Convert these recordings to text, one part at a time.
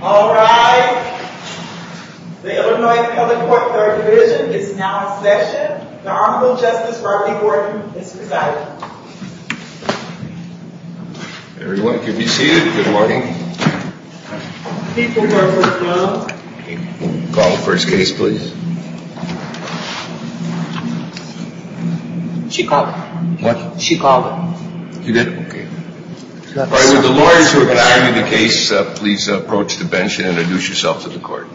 All right. The Illinois Covenant Court Third Division is now in session. The Honorable Justice Barney Gordon is presiding. Everyone can be seated. Good morning. Call the first case, please. She called it. What? She called it. You did? Okay. All right. Would the lawyers who are presiding in the case please approach the bench and introduce yourselves to the court.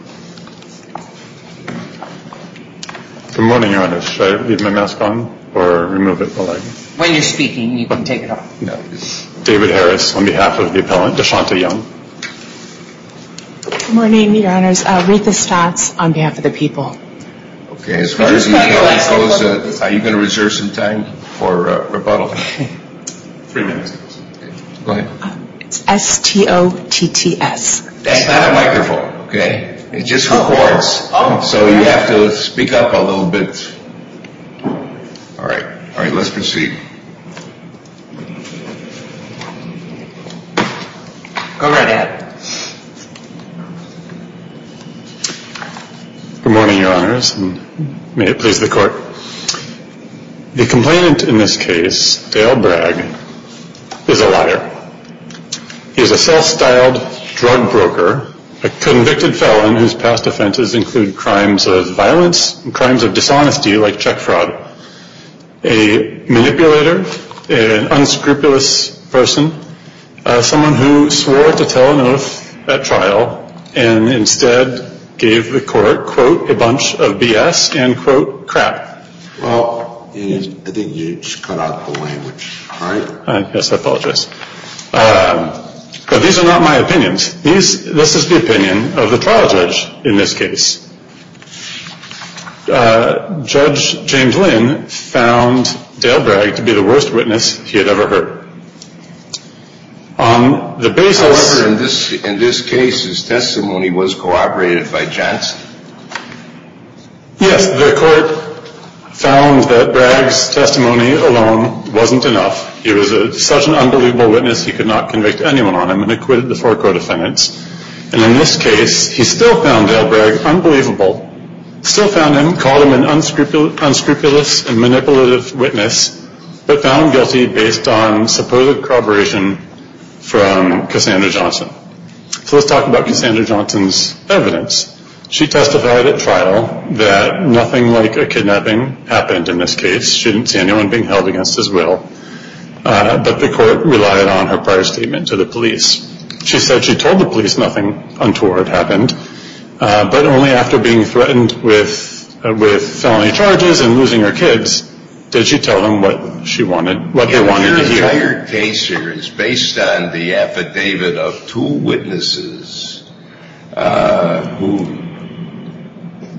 Good morning, Your Honor. Should I leave my mask on or remove it? When you're speaking, you can take it off. David Harris on behalf of the appellant. DeShonta Young. Good morning, Your Honors. Ruth Estats on behalf of the people. Okay. As far as the appeal goes, are you going to reserve some time for rebuttal? Three minutes. Go ahead. It's S-T-O-T-T-S. That's not a microphone, okay? It just records. So you have to speak up a little bit. All right. Let's proceed. Go right ahead. Good morning, Your Honors. May it please the court. The complainant in this case, Dale Bragg, is a liar. He is a self-styled drug broker, a convicted felon whose past offenses include crimes of violence and crimes of dishonesty like check fraud. A manipulator, an unscrupulous person, someone who swore to tell a note at trial and instead gave the court, quote, a bunch of BS and, quote, crap. Well, I think you just cut out the language, right? Yes, I apologize. But these are not my opinions. This is the opinion of the trial judge in this case. Judge James Lynn found Dale Bragg to be the worst witness he had ever heard. However, in this case, his testimony was cooperated by Johnson. Yes, the court found that Bragg's testimony alone wasn't enough. He was such an unbelievable witness, he could not convict anyone on him and acquitted the four co-defendants. And in this case, he still found Dale Bragg unbelievable, still found him, called him an unscrupulous and manipulative witness, but found him guilty based on supposed corroboration from Cassandra Johnson. So let's talk about Cassandra Johnson's evidence. She testified at trial that nothing like a kidnapping happened in this case. She didn't see anyone being held against his will, but the court relied on her prior statement to the police. She said she told the police nothing untoward happened, but only after being threatened with felony charges and losing her kids, did she tell them what they wanted to hear. And your entire case here is based on the affidavit of two witnesses who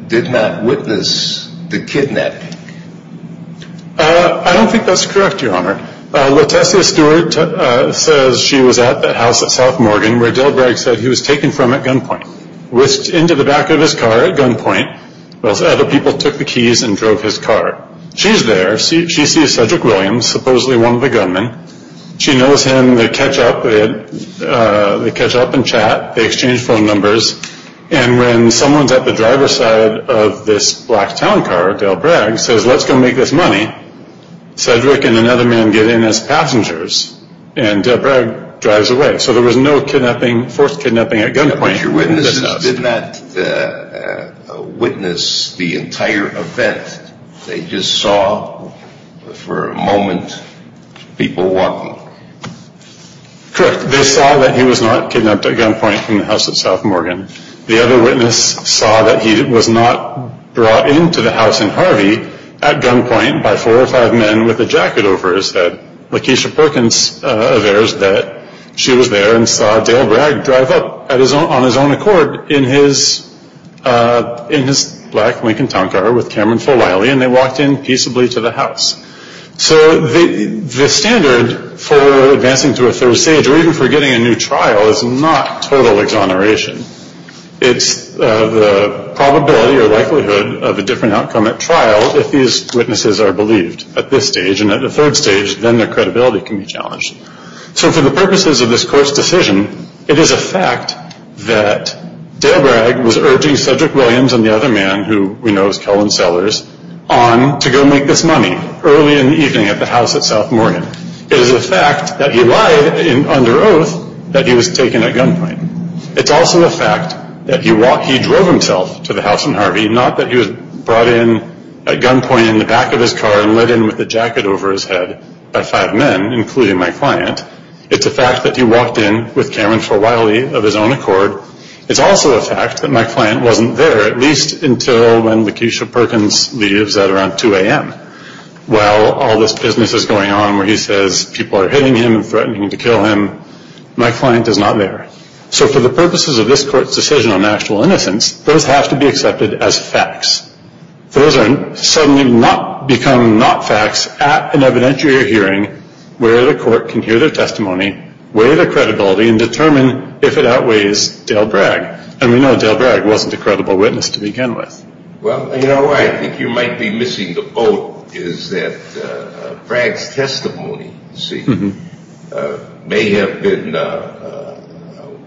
did not witness the kidnapping. I don't think that's correct, Your Honor. Letecia Stewart says she was at the house at South Morgan where Dale Bragg said he was taken from at gunpoint. Whisked into the back of his car at gunpoint, while other people took the keys and drove his car. She's there, she sees Cedric Williams, supposedly one of the gunmen. She knows him, they catch up in chat, they exchange phone numbers, and when someone's at the driver's side of this black town car, Dale Bragg, says let's go make this money, Cedric and another man get in as passengers, and Dale Bragg drives away. So there was no forced kidnapping at gunpoint. But your witnesses did not witness the entire event. They just saw for a moment people walking. Correct, they saw that he was not kidnapped at gunpoint from the house at South Morgan. The other witness saw that he was not brought into the house in Harvey at gunpoint by four or five men with a jacket over his head. Lakeisha Perkins aversed that she was there and saw Dale Bragg drive up on his own accord in his black Lincoln town car with Cameron Folayle, and they walked in peaceably to the house. So the standard for advancing to a third stage or even for getting a new trial is not total exoneration. It's the probability or likelihood of a different outcome at trial if these witnesses are believed at this stage. And at the third stage, then their credibility can be challenged. So for the purposes of this court's decision, it is a fact that Dale Bragg was urging Cedric Williams and the other man who we know is Cullen Sellers on to go make this money early in the evening at the house at South Morgan. It is a fact that he lied under oath that he was taken at gunpoint. It's also a fact that he drove himself to the house in Harvey, not that he was brought in at gunpoint in the back of his car and led in with a jacket over his head by five men, including my client. It's a fact that he walked in with Cameron Folayle of his own accord. It's also a fact that my client wasn't there, at least until when Lakeisha Perkins leaves at around 2 a.m. While all this business is going on where he says people are hitting him and threatening to kill him, my client is not there. So for the purposes of this court's decision on actual innocence, those have to be accepted as facts. Those suddenly become not facts at an evidentiary hearing where the court can hear their testimony, weigh the credibility, and determine if it outweighs Dale Bragg. And we know Dale Bragg wasn't a credible witness to begin with. Well, you know why I think you might be missing the boat is that Bragg's testimony, you see, may have been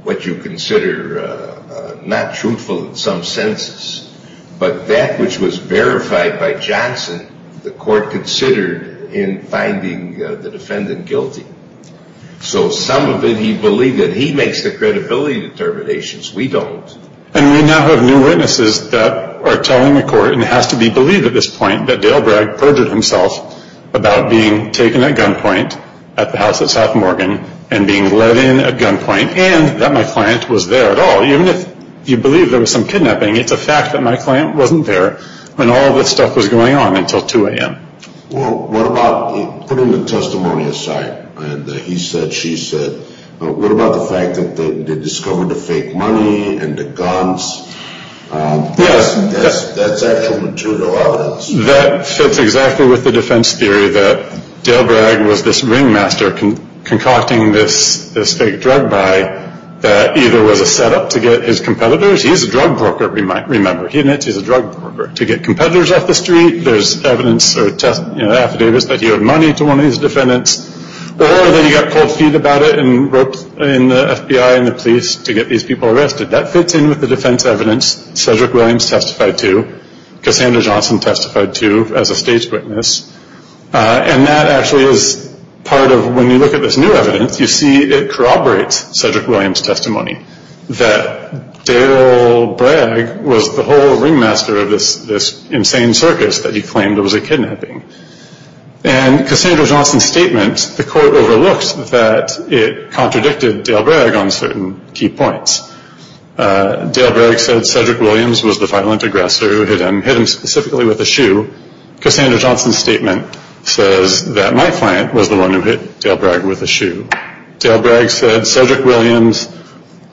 what you consider not truthful in some senses. But that which was verified by Johnson, the court considered in finding the defendant guilty. So some of it he believed that he makes the credibility determinations. We don't. And we now have new witnesses that are telling the court, and it has to be believed at this point, that Dale Bragg perjured himself about being taken at gunpoint at the house at South Morgan and being let in at gunpoint and that my client was there at all. Even if you believe there was some kidnapping, it's a fact that my client wasn't there when all this stuff was going on until 2 a.m. Well, what about putting the testimony aside? And he said, she said, what about the fact that they discovered the fake money and the guns? Yes. That's actual material evidence. That fits exactly with the defense theory that Dale Bragg was this ringmaster concocting this fake drug buy that either was a setup to get his competitors. He's a drug broker, we might remember. He admits he's a drug broker. To get competitors off the street, there's evidence or affidavits that he owed money to one of his defendants. Or that he got cold feet about it and wrote in the FBI and the police to get these people arrested. That fits in with the defense evidence Cedric Williams testified to, Cassandra Johnson testified to as a stage witness. And that actually is part of when you look at this new evidence, that Dale Bragg was the whole ringmaster of this insane circus that he claimed was a kidnapping. And Cassandra Johnson's statement, the court overlooked that it contradicted Dale Bragg on certain key points. Dale Bragg said Cedric Williams was the violent aggressor who hit him. Hit him specifically with a shoe. Cassandra Johnson's statement says that my client was the one who hit Dale Bragg with a shoe. Dale Bragg said Cedric Williams,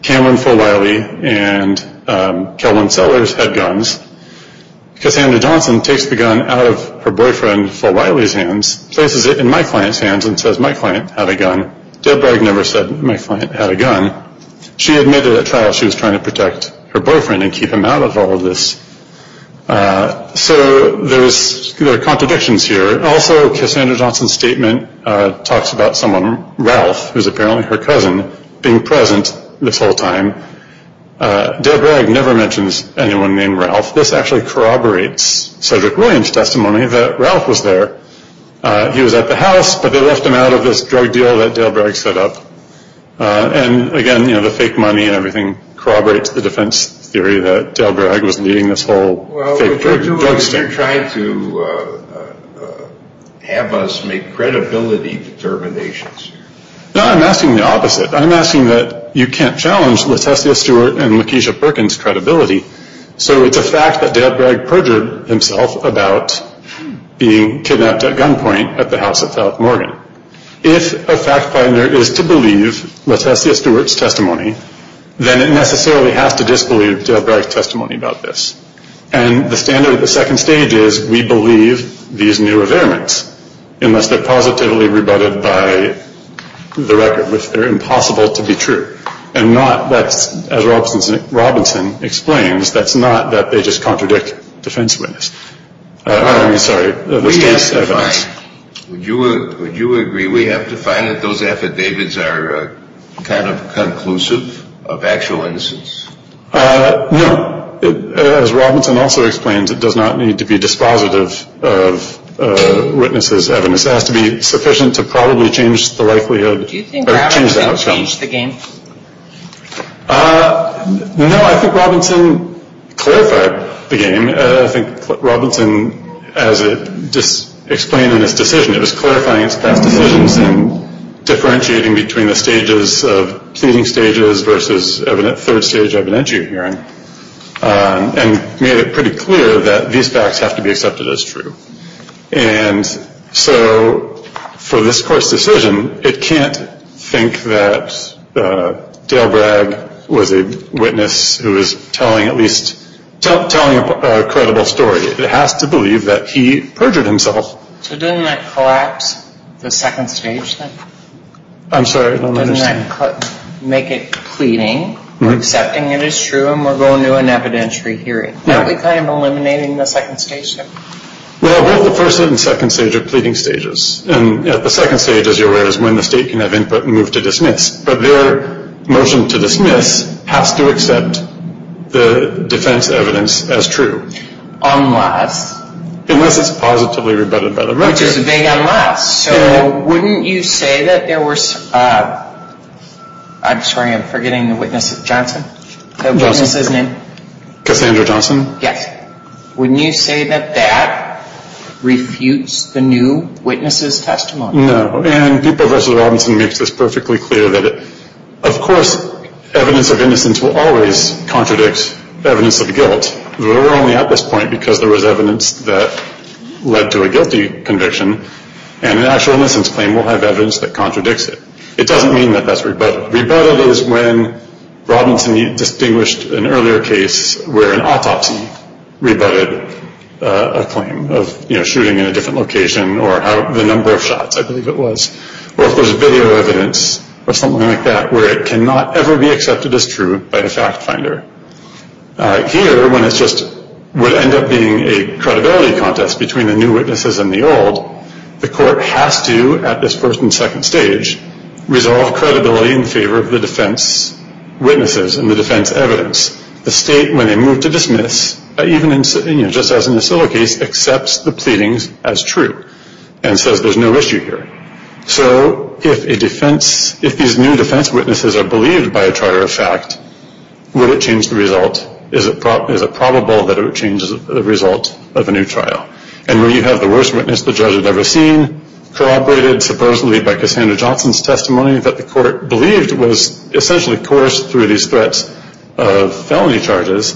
Cameron Fulwiley, and Kelvin Sellers had guns. Cassandra Johnson takes the gun out of her boyfriend Fulwiley's hands, places it in my client's hands, and says my client had a gun. Dale Bragg never said my client had a gun. She admitted at trial she was trying to protect her boyfriend and keep him out of all of this. So there are contradictions here. Also, Cassandra Johnson's statement talks about someone, Ralph, who is apparently her cousin, being present this whole time. Dale Bragg never mentions anyone named Ralph. This actually corroborates Cedric Williams' testimony that Ralph was there. He was at the house, but they left him out of this drug deal that Dale Bragg set up. And again, you know, the fake money and everything corroborates the defense theory that Dale Bragg was leading this whole fake drug scandal. So you're trying to have us make credibility determinations. No, I'm asking the opposite. I'm asking that you can't challenge LaTessia Stewart and Lakeisha Perkins' credibility. So it's a fact that Dale Bragg perjured himself about being kidnapped at gunpoint at the house at South Morgan. If a fact finder is to believe LaTessia Stewart's testimony, then it necessarily has to disbelieve Dale Bragg's testimony about this. And the standard of the second stage is we believe these new evidence, unless they're positively rebutted by the record, which they're impossible to be true. And not that, as Robinson explains, that's not that they just contradict defense witness. I'm sorry. Would you agree we have to find that those affidavits are kind of conclusive of actual innocence? No. As Robinson also explains, it does not need to be dispositive of witnesses' evidence. It has to be sufficient to probably change the likelihood or change the outcome. Do you think Robinson changed the game? No, I think Robinson clarified the game. I think Robinson, as explained in his decision, it was clarifying his past decisions and differentiating between the stages of pleading stages versus third stage evidentiary hearing, and made it pretty clear that these facts have to be accepted as true. And so for this court's decision, it can't think that Dale Bragg was a witness who was telling at least a credible story. It has to believe that he perjured himself. So didn't that collapse the second stage then? I'm sorry, I don't understand. Make it pleading, accepting it as true, and we're going to an evidentiary hearing. Aren't we kind of eliminating the second stage then? Well, we're at the first and second stage of pleading stages. And at the second stage, as you're aware, is when the state can have input and move to dismiss. But their motion to dismiss has to accept the defense evidence as true. Unless? Unless it's positively rebutted by the record. Which is a big unless. So wouldn't you say that there was – I'm sorry, I'm forgetting the witness's name. Johnson. Cassandra Johnson. Yes. Wouldn't you say that that refutes the new witness's testimony? No. And Pieper v. Robinson makes this perfectly clear that, of course, evidence of innocence will always contradict evidence of guilt. We're only at this point because there was evidence that led to a guilty conviction. And an actual innocence claim will have evidence that contradicts it. It doesn't mean that that's rebutted. Rebutted is when Robinson distinguished an earlier case where an autopsy rebutted a claim of, you know, shooting in a different location or the number of shots, I believe it was. Or if there's video evidence or something like that where it cannot ever be accepted as true by the fact finder. Here, when it's just – would end up being a credibility contest between the new witnesses and the old, the court has to, at this first and second stage, resolve credibility in favor of the defense witnesses and the defense evidence. The state, when they move to dismiss, even just as in the Silver case, accepts the pleadings as true and says there's no issue here. So, if a defense – if these new defense witnesses are believed by a trial of fact, would it change the result? Is it probable that it would change the result of a new trial? And when you have the worst witness the judge had ever seen, corroborated supposedly by Cassandra Johnson's testimony that the court believed was essentially coerced through these threats of felony charges,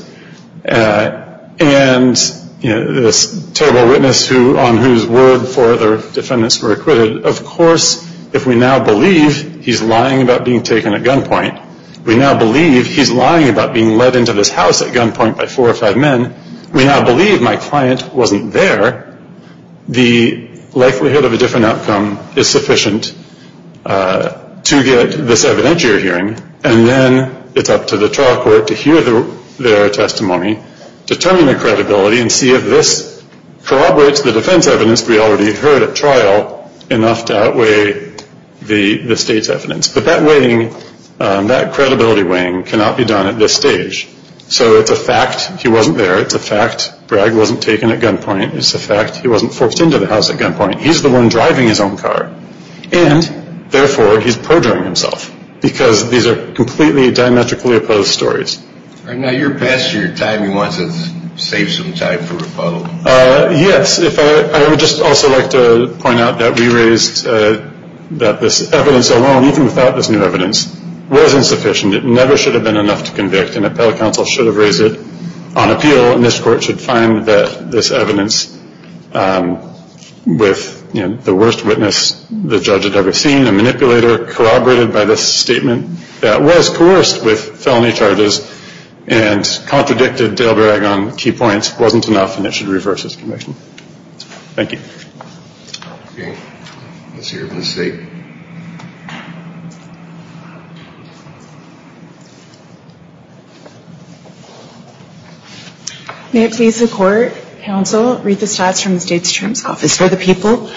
and this terrible witness on whose word four other defendants were acquitted, of course, if we now believe he's lying about being taken at gunpoint, we now believe he's lying about being let into this house at gunpoint by four or five men, we now believe my client wasn't there, the likelihood of a different outcome is sufficient to get this evidentiary hearing. And then it's up to the trial court to hear their testimony, determine the credibility and see if this corroborates the defense evidence we already heard at trial enough to outweigh the state's evidence. But that weighing, that credibility weighing cannot be done at this stage. So, it's a fact he wasn't there. It's a fact Bragg wasn't taken at gunpoint. It's a fact he wasn't forced into the house at gunpoint. He's the one driving his own car. And, therefore, he's perjuring himself, because these are completely diametrically opposed stories. Now, you're passing your time. You want to save some time for rebuttal? Yes. I would just also like to point out that we raised that this evidence alone, even without this new evidence, was insufficient. It never should have been enough to convict, and appellate counsel should have raised it on appeal, and this court should find that this evidence with the worst witness the judge had ever seen, a manipulator corroborated by this statement that was coerced with felony charges and contradicted Dale Bragg on key points wasn't enough, and it should reverse this conviction. Thank you. Okay. Let's hear from the state. May it please the court, counsel, read the stats from the state's terms office for the people.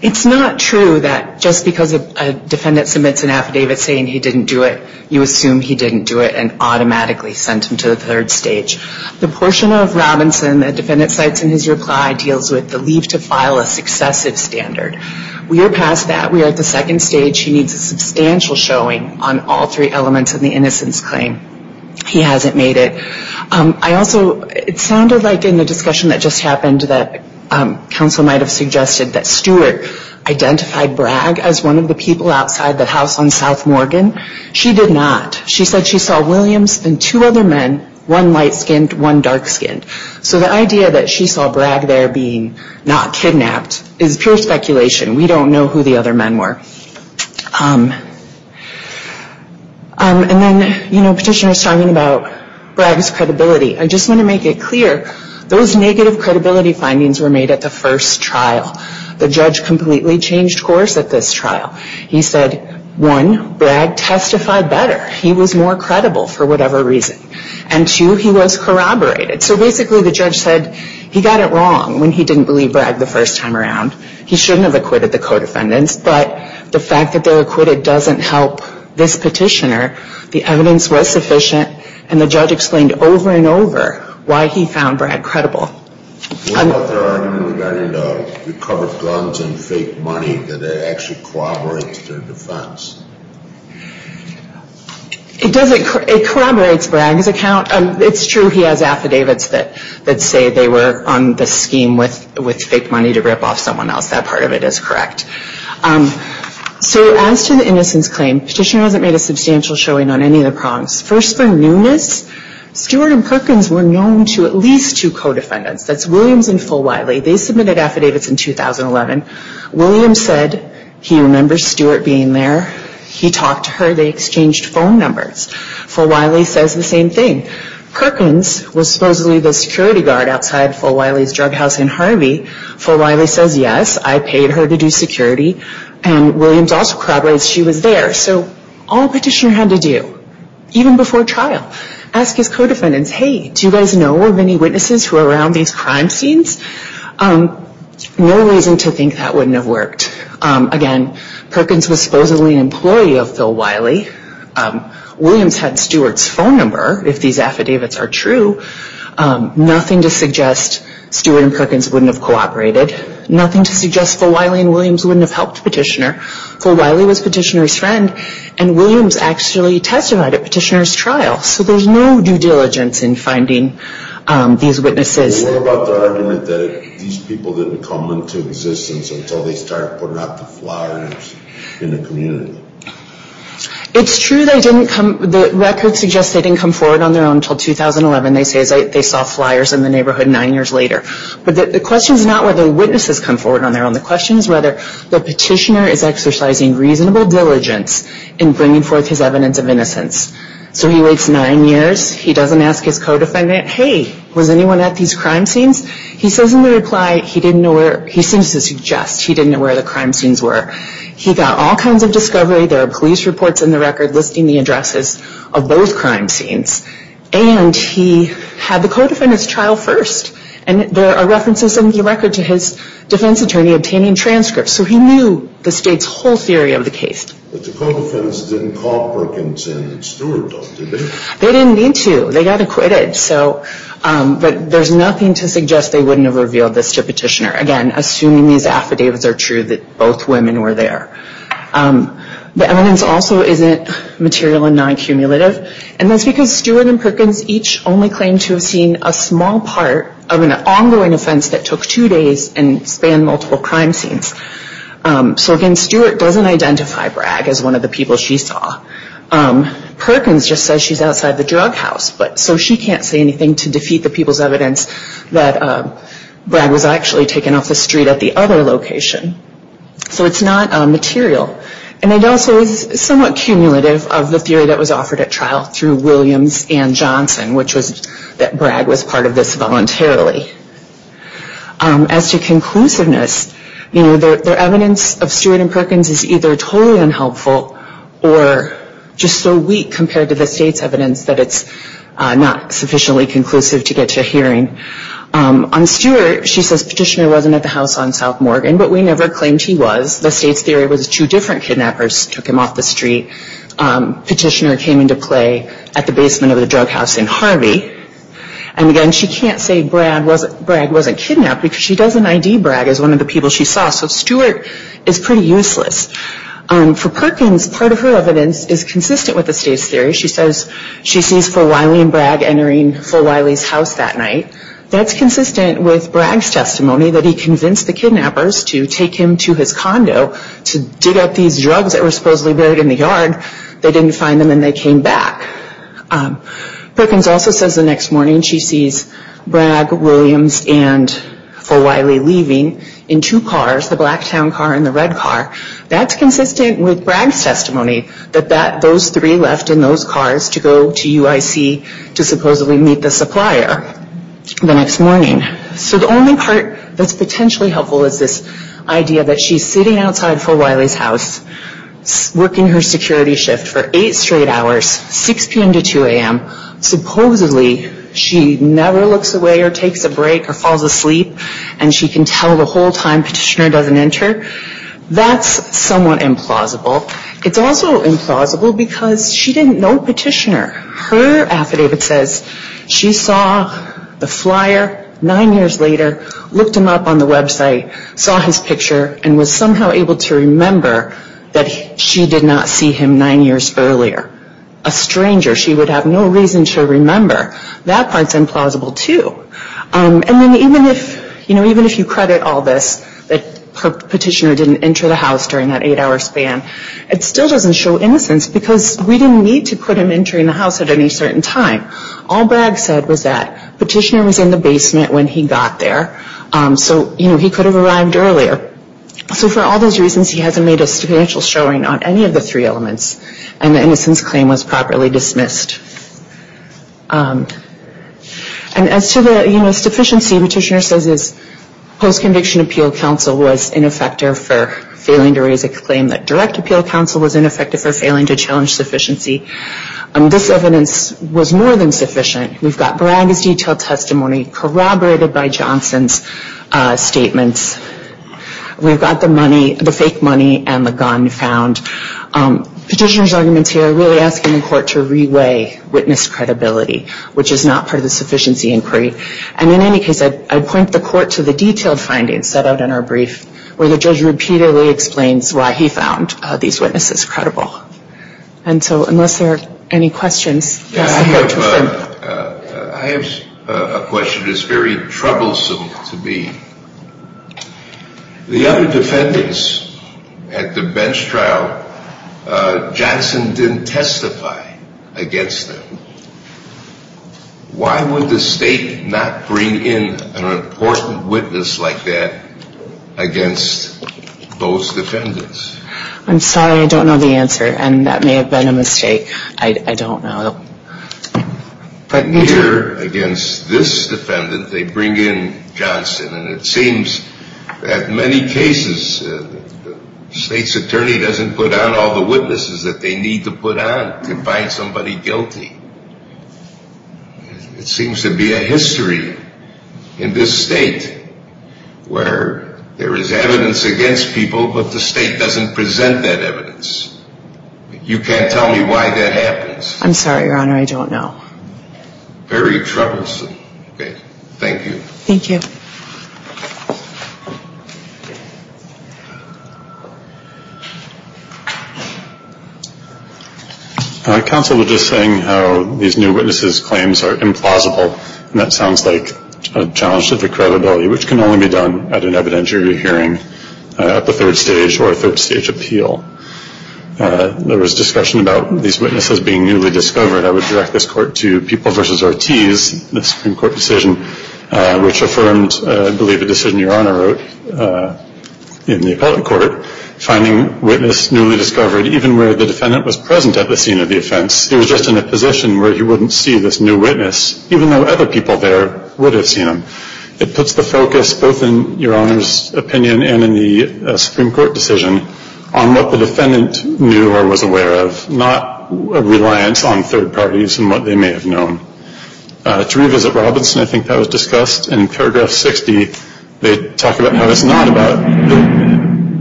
It's not true that just because a defendant submits an affidavit saying he didn't do it, you assume he didn't do it and automatically sent him to the third stage. The portion of Robinson the defendant cites in his reply deals with the leave to file a successive standard. We are past that. We are at the second stage. He needs a substantial showing on all three elements of the innocence claim. He hasn't made it. It sounded like in the discussion that just happened that counsel might have suggested that Stewart identified Bragg as one of the people outside the house on South Morgan. She did not. She said she saw Williams and two other men, one light-skinned, one dark-skinned. So the idea that she saw Bragg there being not kidnapped is pure speculation. We don't know who the other men were. And then, you know, petitioner is talking about Bragg's credibility. I just want to make it clear those negative credibility findings were made at the first trial. The judge completely changed course at this trial. He said, one, Bragg testified better. He was more credible for whatever reason. And two, he was corroborated. So basically the judge said he got it wrong when he didn't believe Bragg the first time around. He shouldn't have acquitted the co-defendants. But the fact that they were acquitted doesn't help this petitioner. The evidence was sufficient. And the judge explained over and over why he found Bragg credible. What about their argument regarding the recovered guns and fake money that actually corroborates their defense? It doesn't. It corroborates Bragg's account. It's true he has affidavits that say they were on the scheme with fake money to rip off someone else. That part of it is correct. So as to the innocence claim, petitioner hasn't made a substantial showing on any of the prongs. First, for newness, Stewart and Perkins were known to at least two co-defendants. That's Williams and Fulwiley. They submitted affidavits in 2011. Williams said he remembers Stewart being there. He talked to her. They exchanged phone numbers. Fulwiley says the same thing. Perkins was supposedly the security guard outside Fulwiley's drug house in Harvey. Fulwiley says, yes, I paid her to do security. And Williams also corroborates she was there. So all petitioner had to do, even before trial, ask his co-defendants, hey, do you guys know of any witnesses who were around these crime scenes? No reason to think that wouldn't have worked. Again, Perkins was supposedly an employee of Fulwiley. Williams had Stewart's phone number, if these affidavits are true. Nothing to suggest Stewart and Perkins wouldn't have cooperated. Nothing to suggest Fulwiley and Williams wouldn't have helped petitioner. Fulwiley was petitioner's friend. And Williams actually testified at petitioner's trial. So there's no due diligence in finding these witnesses. What about the argument that these people didn't come into existence until they started putting out the flyers in the community? It's true they didn't come. The record suggests they didn't come forward on their own until 2011. They say they saw flyers in the neighborhood nine years later. But the question is not whether witnesses come forward on their own. The question is whether the petitioner is exercising reasonable diligence in bringing forth his evidence of innocence. So he waits nine years. He doesn't ask his co-defendant, hey, was anyone at these crime scenes? He says in the reply, he seems to suggest he didn't know where the crime scenes were. He got all kinds of discovery. There are police reports in the record listing the addresses of both crime scenes. And he had the co-defendant's trial first. And there are references in the record to his defense attorney obtaining transcripts. So he knew the state's whole theory of the case. But the co-defendants didn't call Perkins and Stewart, did they? They didn't need to. They got acquitted. But there's nothing to suggest they wouldn't have revealed this to petitioner, again, assuming these affidavits are true that both women were there. The evidence also isn't material and non-cumulative. And that's because Stewart and Perkins each only claim to have seen a small part of an ongoing offense that took two days and spanned multiple crime scenes. So, again, Stewart doesn't identify Bragg as one of the people she saw. Perkins just says she's outside the drug house. So she can't say anything to defeat the people's evidence that Bragg was actually taken off the street at the other location. So it's not material. And it also is somewhat cumulative of the theory that was offered at trial through Williams and Johnson, which was that Bragg was part of this voluntarily. As to conclusiveness, their evidence of Stewart and Perkins is either totally unhelpful or just so weak compared to the state's evidence that it's not sufficiently conclusive to get to a hearing. On Stewart, she says petitioner wasn't at the house on South Morgan, but we never claimed he was. The state's theory was two different kidnappers took him off the street. Petitioner came into play at the basement of the drug house in Harvey. And, again, she can't say Bragg wasn't kidnapped because she doesn't ID Bragg as one of the people she saw. So Stewart is pretty useless. For Perkins, part of her evidence is consistent with the state's theory. She says she sees Phil Wiley and Bragg entering Phil Wiley's house that night. That's consistent with Bragg's testimony that he convinced the kidnappers to take him to his condo to dig up these drugs that were supposedly buried in the yard. They didn't find them and they came back. Perkins also says the next morning she sees Bragg, Williams, and Phil Wiley leaving in two cars, the black town car and the red car. That's consistent with Bragg's testimony that those three left in those cars to go to UIC to supposedly meet the supplier the next morning. So the only part that's potentially helpful is this idea that she's sitting outside Phil Wiley's house working her security shift for eight straight hours, 6 p.m. to 2 a.m. Supposedly she never looks away or takes a break or falls asleep and she can tell the whole time Petitioner doesn't enter. That's somewhat implausible. It's also implausible because she didn't know Petitioner. Her affidavit says she saw the flyer nine years later, looked him up on the website, saw his picture, and was somehow able to remember that she did not see him nine years earlier. A stranger, she would have no reason to remember. That part's implausible too. And even if you credit all this, that Petitioner didn't enter the house during that eight-hour span, it still doesn't show innocence because we didn't need to put him entering the house at any certain time. All Bragg said was that Petitioner was in the basement when he got there, so he could have arrived earlier. So for all those reasons, he hasn't made a substantial showing on any of the three elements and the innocence claim was properly dismissed. And as to the sufficiency, Petitioner says his post-conviction appeal counsel was ineffective for failing to raise a claim that direct appeal counsel was ineffective for failing to challenge sufficiency. This evidence was more than sufficient. We've got Bragg's detailed testimony corroborated by Johnson's statements. We've got the fake money and the gun found. Petitioner's arguments here are really asking the court to re-weigh witness credibility, which is not part of the sufficiency inquiry. And in any case, I'd point the court to the detailed findings set out in our brief where the judge repeatedly explains why he found these witnesses credible. And so unless there are any questions. I have a question that's very troublesome to me. The other defendants at the bench trial, Johnson didn't testify against them. Why would the state not bring in an important witness like that against those defendants? I'm sorry. I don't know the answer. And that may have been a mistake. I don't know. But here against this defendant, they bring in Johnson. And it seems that in many cases, the state's attorney doesn't put out all the witnesses that they need to put out to find somebody guilty. It seems to be a history in this state where there is evidence against people, but the state doesn't present that evidence. You can't tell me why that happens. I'm sorry, Your Honor. I don't know. Very troublesome. Okay. Thank you. Thank you. Counsel was just saying how these new witnesses' claims are implausible, and that sounds like a challenge to the credibility, which can only be done at an evidentiary hearing at the third stage or a third stage appeal. There was discussion about these witnesses being newly discovered. I would direct this court to People v. Ortiz, the Supreme Court decision, and I believe a decision Your Honor wrote in the appellate court, finding witnesses newly discovered even where the defendant was present at the scene of the offense. He was just in a position where he wouldn't see this new witness, even though other people there would have seen him. It puts the focus, both in Your Honor's opinion and in the Supreme Court decision, on what the defendant knew or was aware of, not a reliance on third parties and what they may have known. To revisit Robinson, I think that was discussed in paragraph 60. They talk about how it's not about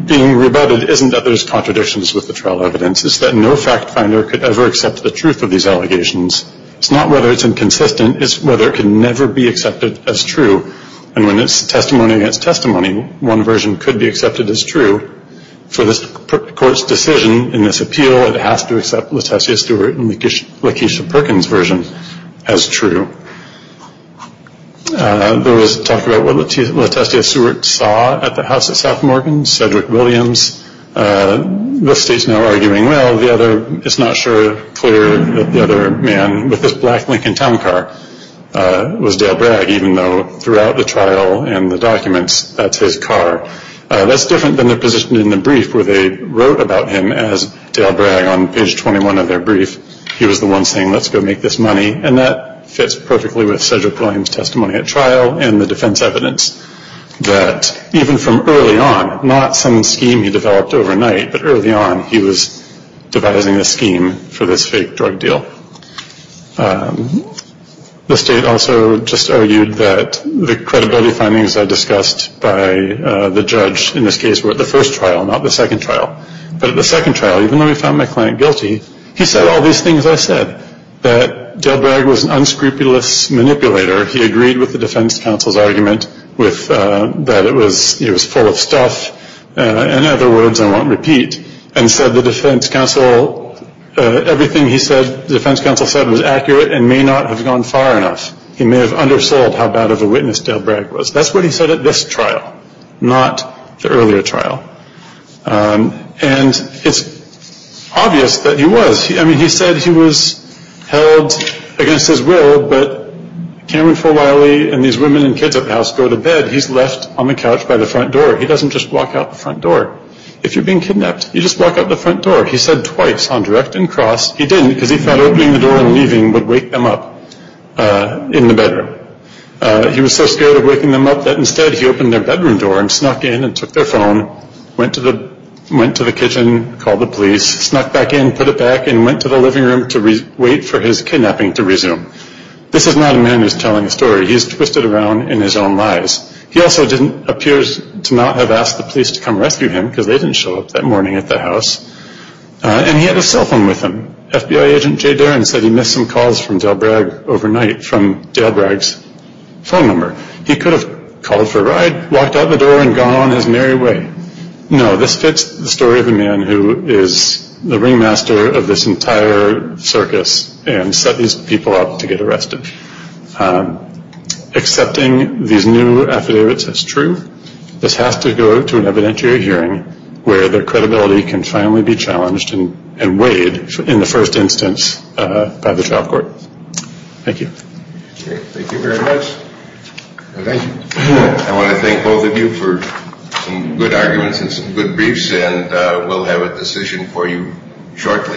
being rebutted. It isn't that there's contradictions with the trial evidence. It's that no fact finder could ever accept the truth of these allegations. It's not whether it's inconsistent. It's whether it can never be accepted as true. And when it's testimony against testimony, one version could be accepted as true. For this court's decision in this appeal, it has to accept LaTessia Stewart and Lakeisha Perkins' version as true. There was talk about what LaTessia Stewart saw at the house at South Morgan, Cedric Williams, the state's now arguing, well, it's not clear that the other man with this black Lincoln town car was Dale Bragg, even though throughout the trial and the documents, that's his car. That's different than the position in the brief where they wrote about him as Dale Bragg on page 21 of their brief. He was the one saying, let's go make this money. And that fits perfectly with Cedric Williams' testimony at trial and the defense evidence that even from early on, not some scheme he developed overnight, but early on he was devising a scheme for this fake drug deal. The state also just argued that the credibility findings I discussed by the judge in this case were at the first trial, not the second trial. But at the second trial, even though he found my client guilty, he said all these things I said, that Dale Bragg was an unscrupulous manipulator. He agreed with the defense counsel's argument that it was full of stuff. In other words, I won't repeat, and said the defense counsel, everything he said the defense counsel said was accurate and may not have gone far enough. He may have undersold how bad of a witness Dale Bragg was. That's what he said at this trial, not the earlier trial. And it's obvious that he was. I mean, he said he was held against his will, but Cameron Forwiley and these women and kids at the house go to bed. He's left on the couch by the front door. He doesn't just walk out the front door. If you're being kidnapped, you just walk out the front door. He said twice on direct and cross. He didn't because he thought opening the door and leaving would wake them up in the bedroom. He was so scared of waking them up that instead he opened their bedroom door and snuck in and took their phone, went to the kitchen, called the police, snuck back in, put it back, and went to the living room to wait for his kidnapping to resume. This is not a man who's telling a story. He's twisted around in his own lies. He also appears to not have asked the police to come rescue him because they didn't show up that morning at the house. And he had a cell phone with him. FBI agent Jay Deren said he missed some calls from Dale Bragg overnight from Dale Bragg's phone number. He could have called for a ride, walked out the door, and gone on his merry way. No, this fits the story of a man who is the ringmaster of this entire circus and set these people up to get arrested. Accepting these new affidavits is true. This has to go to an evidentiary hearing where their credibility can finally be challenged and weighed in the first instance by the trial court. Thank you. Thank you very much. Thank you. I want to thank both of you for some good arguments and some good briefs, and we'll have a decision for you shortly.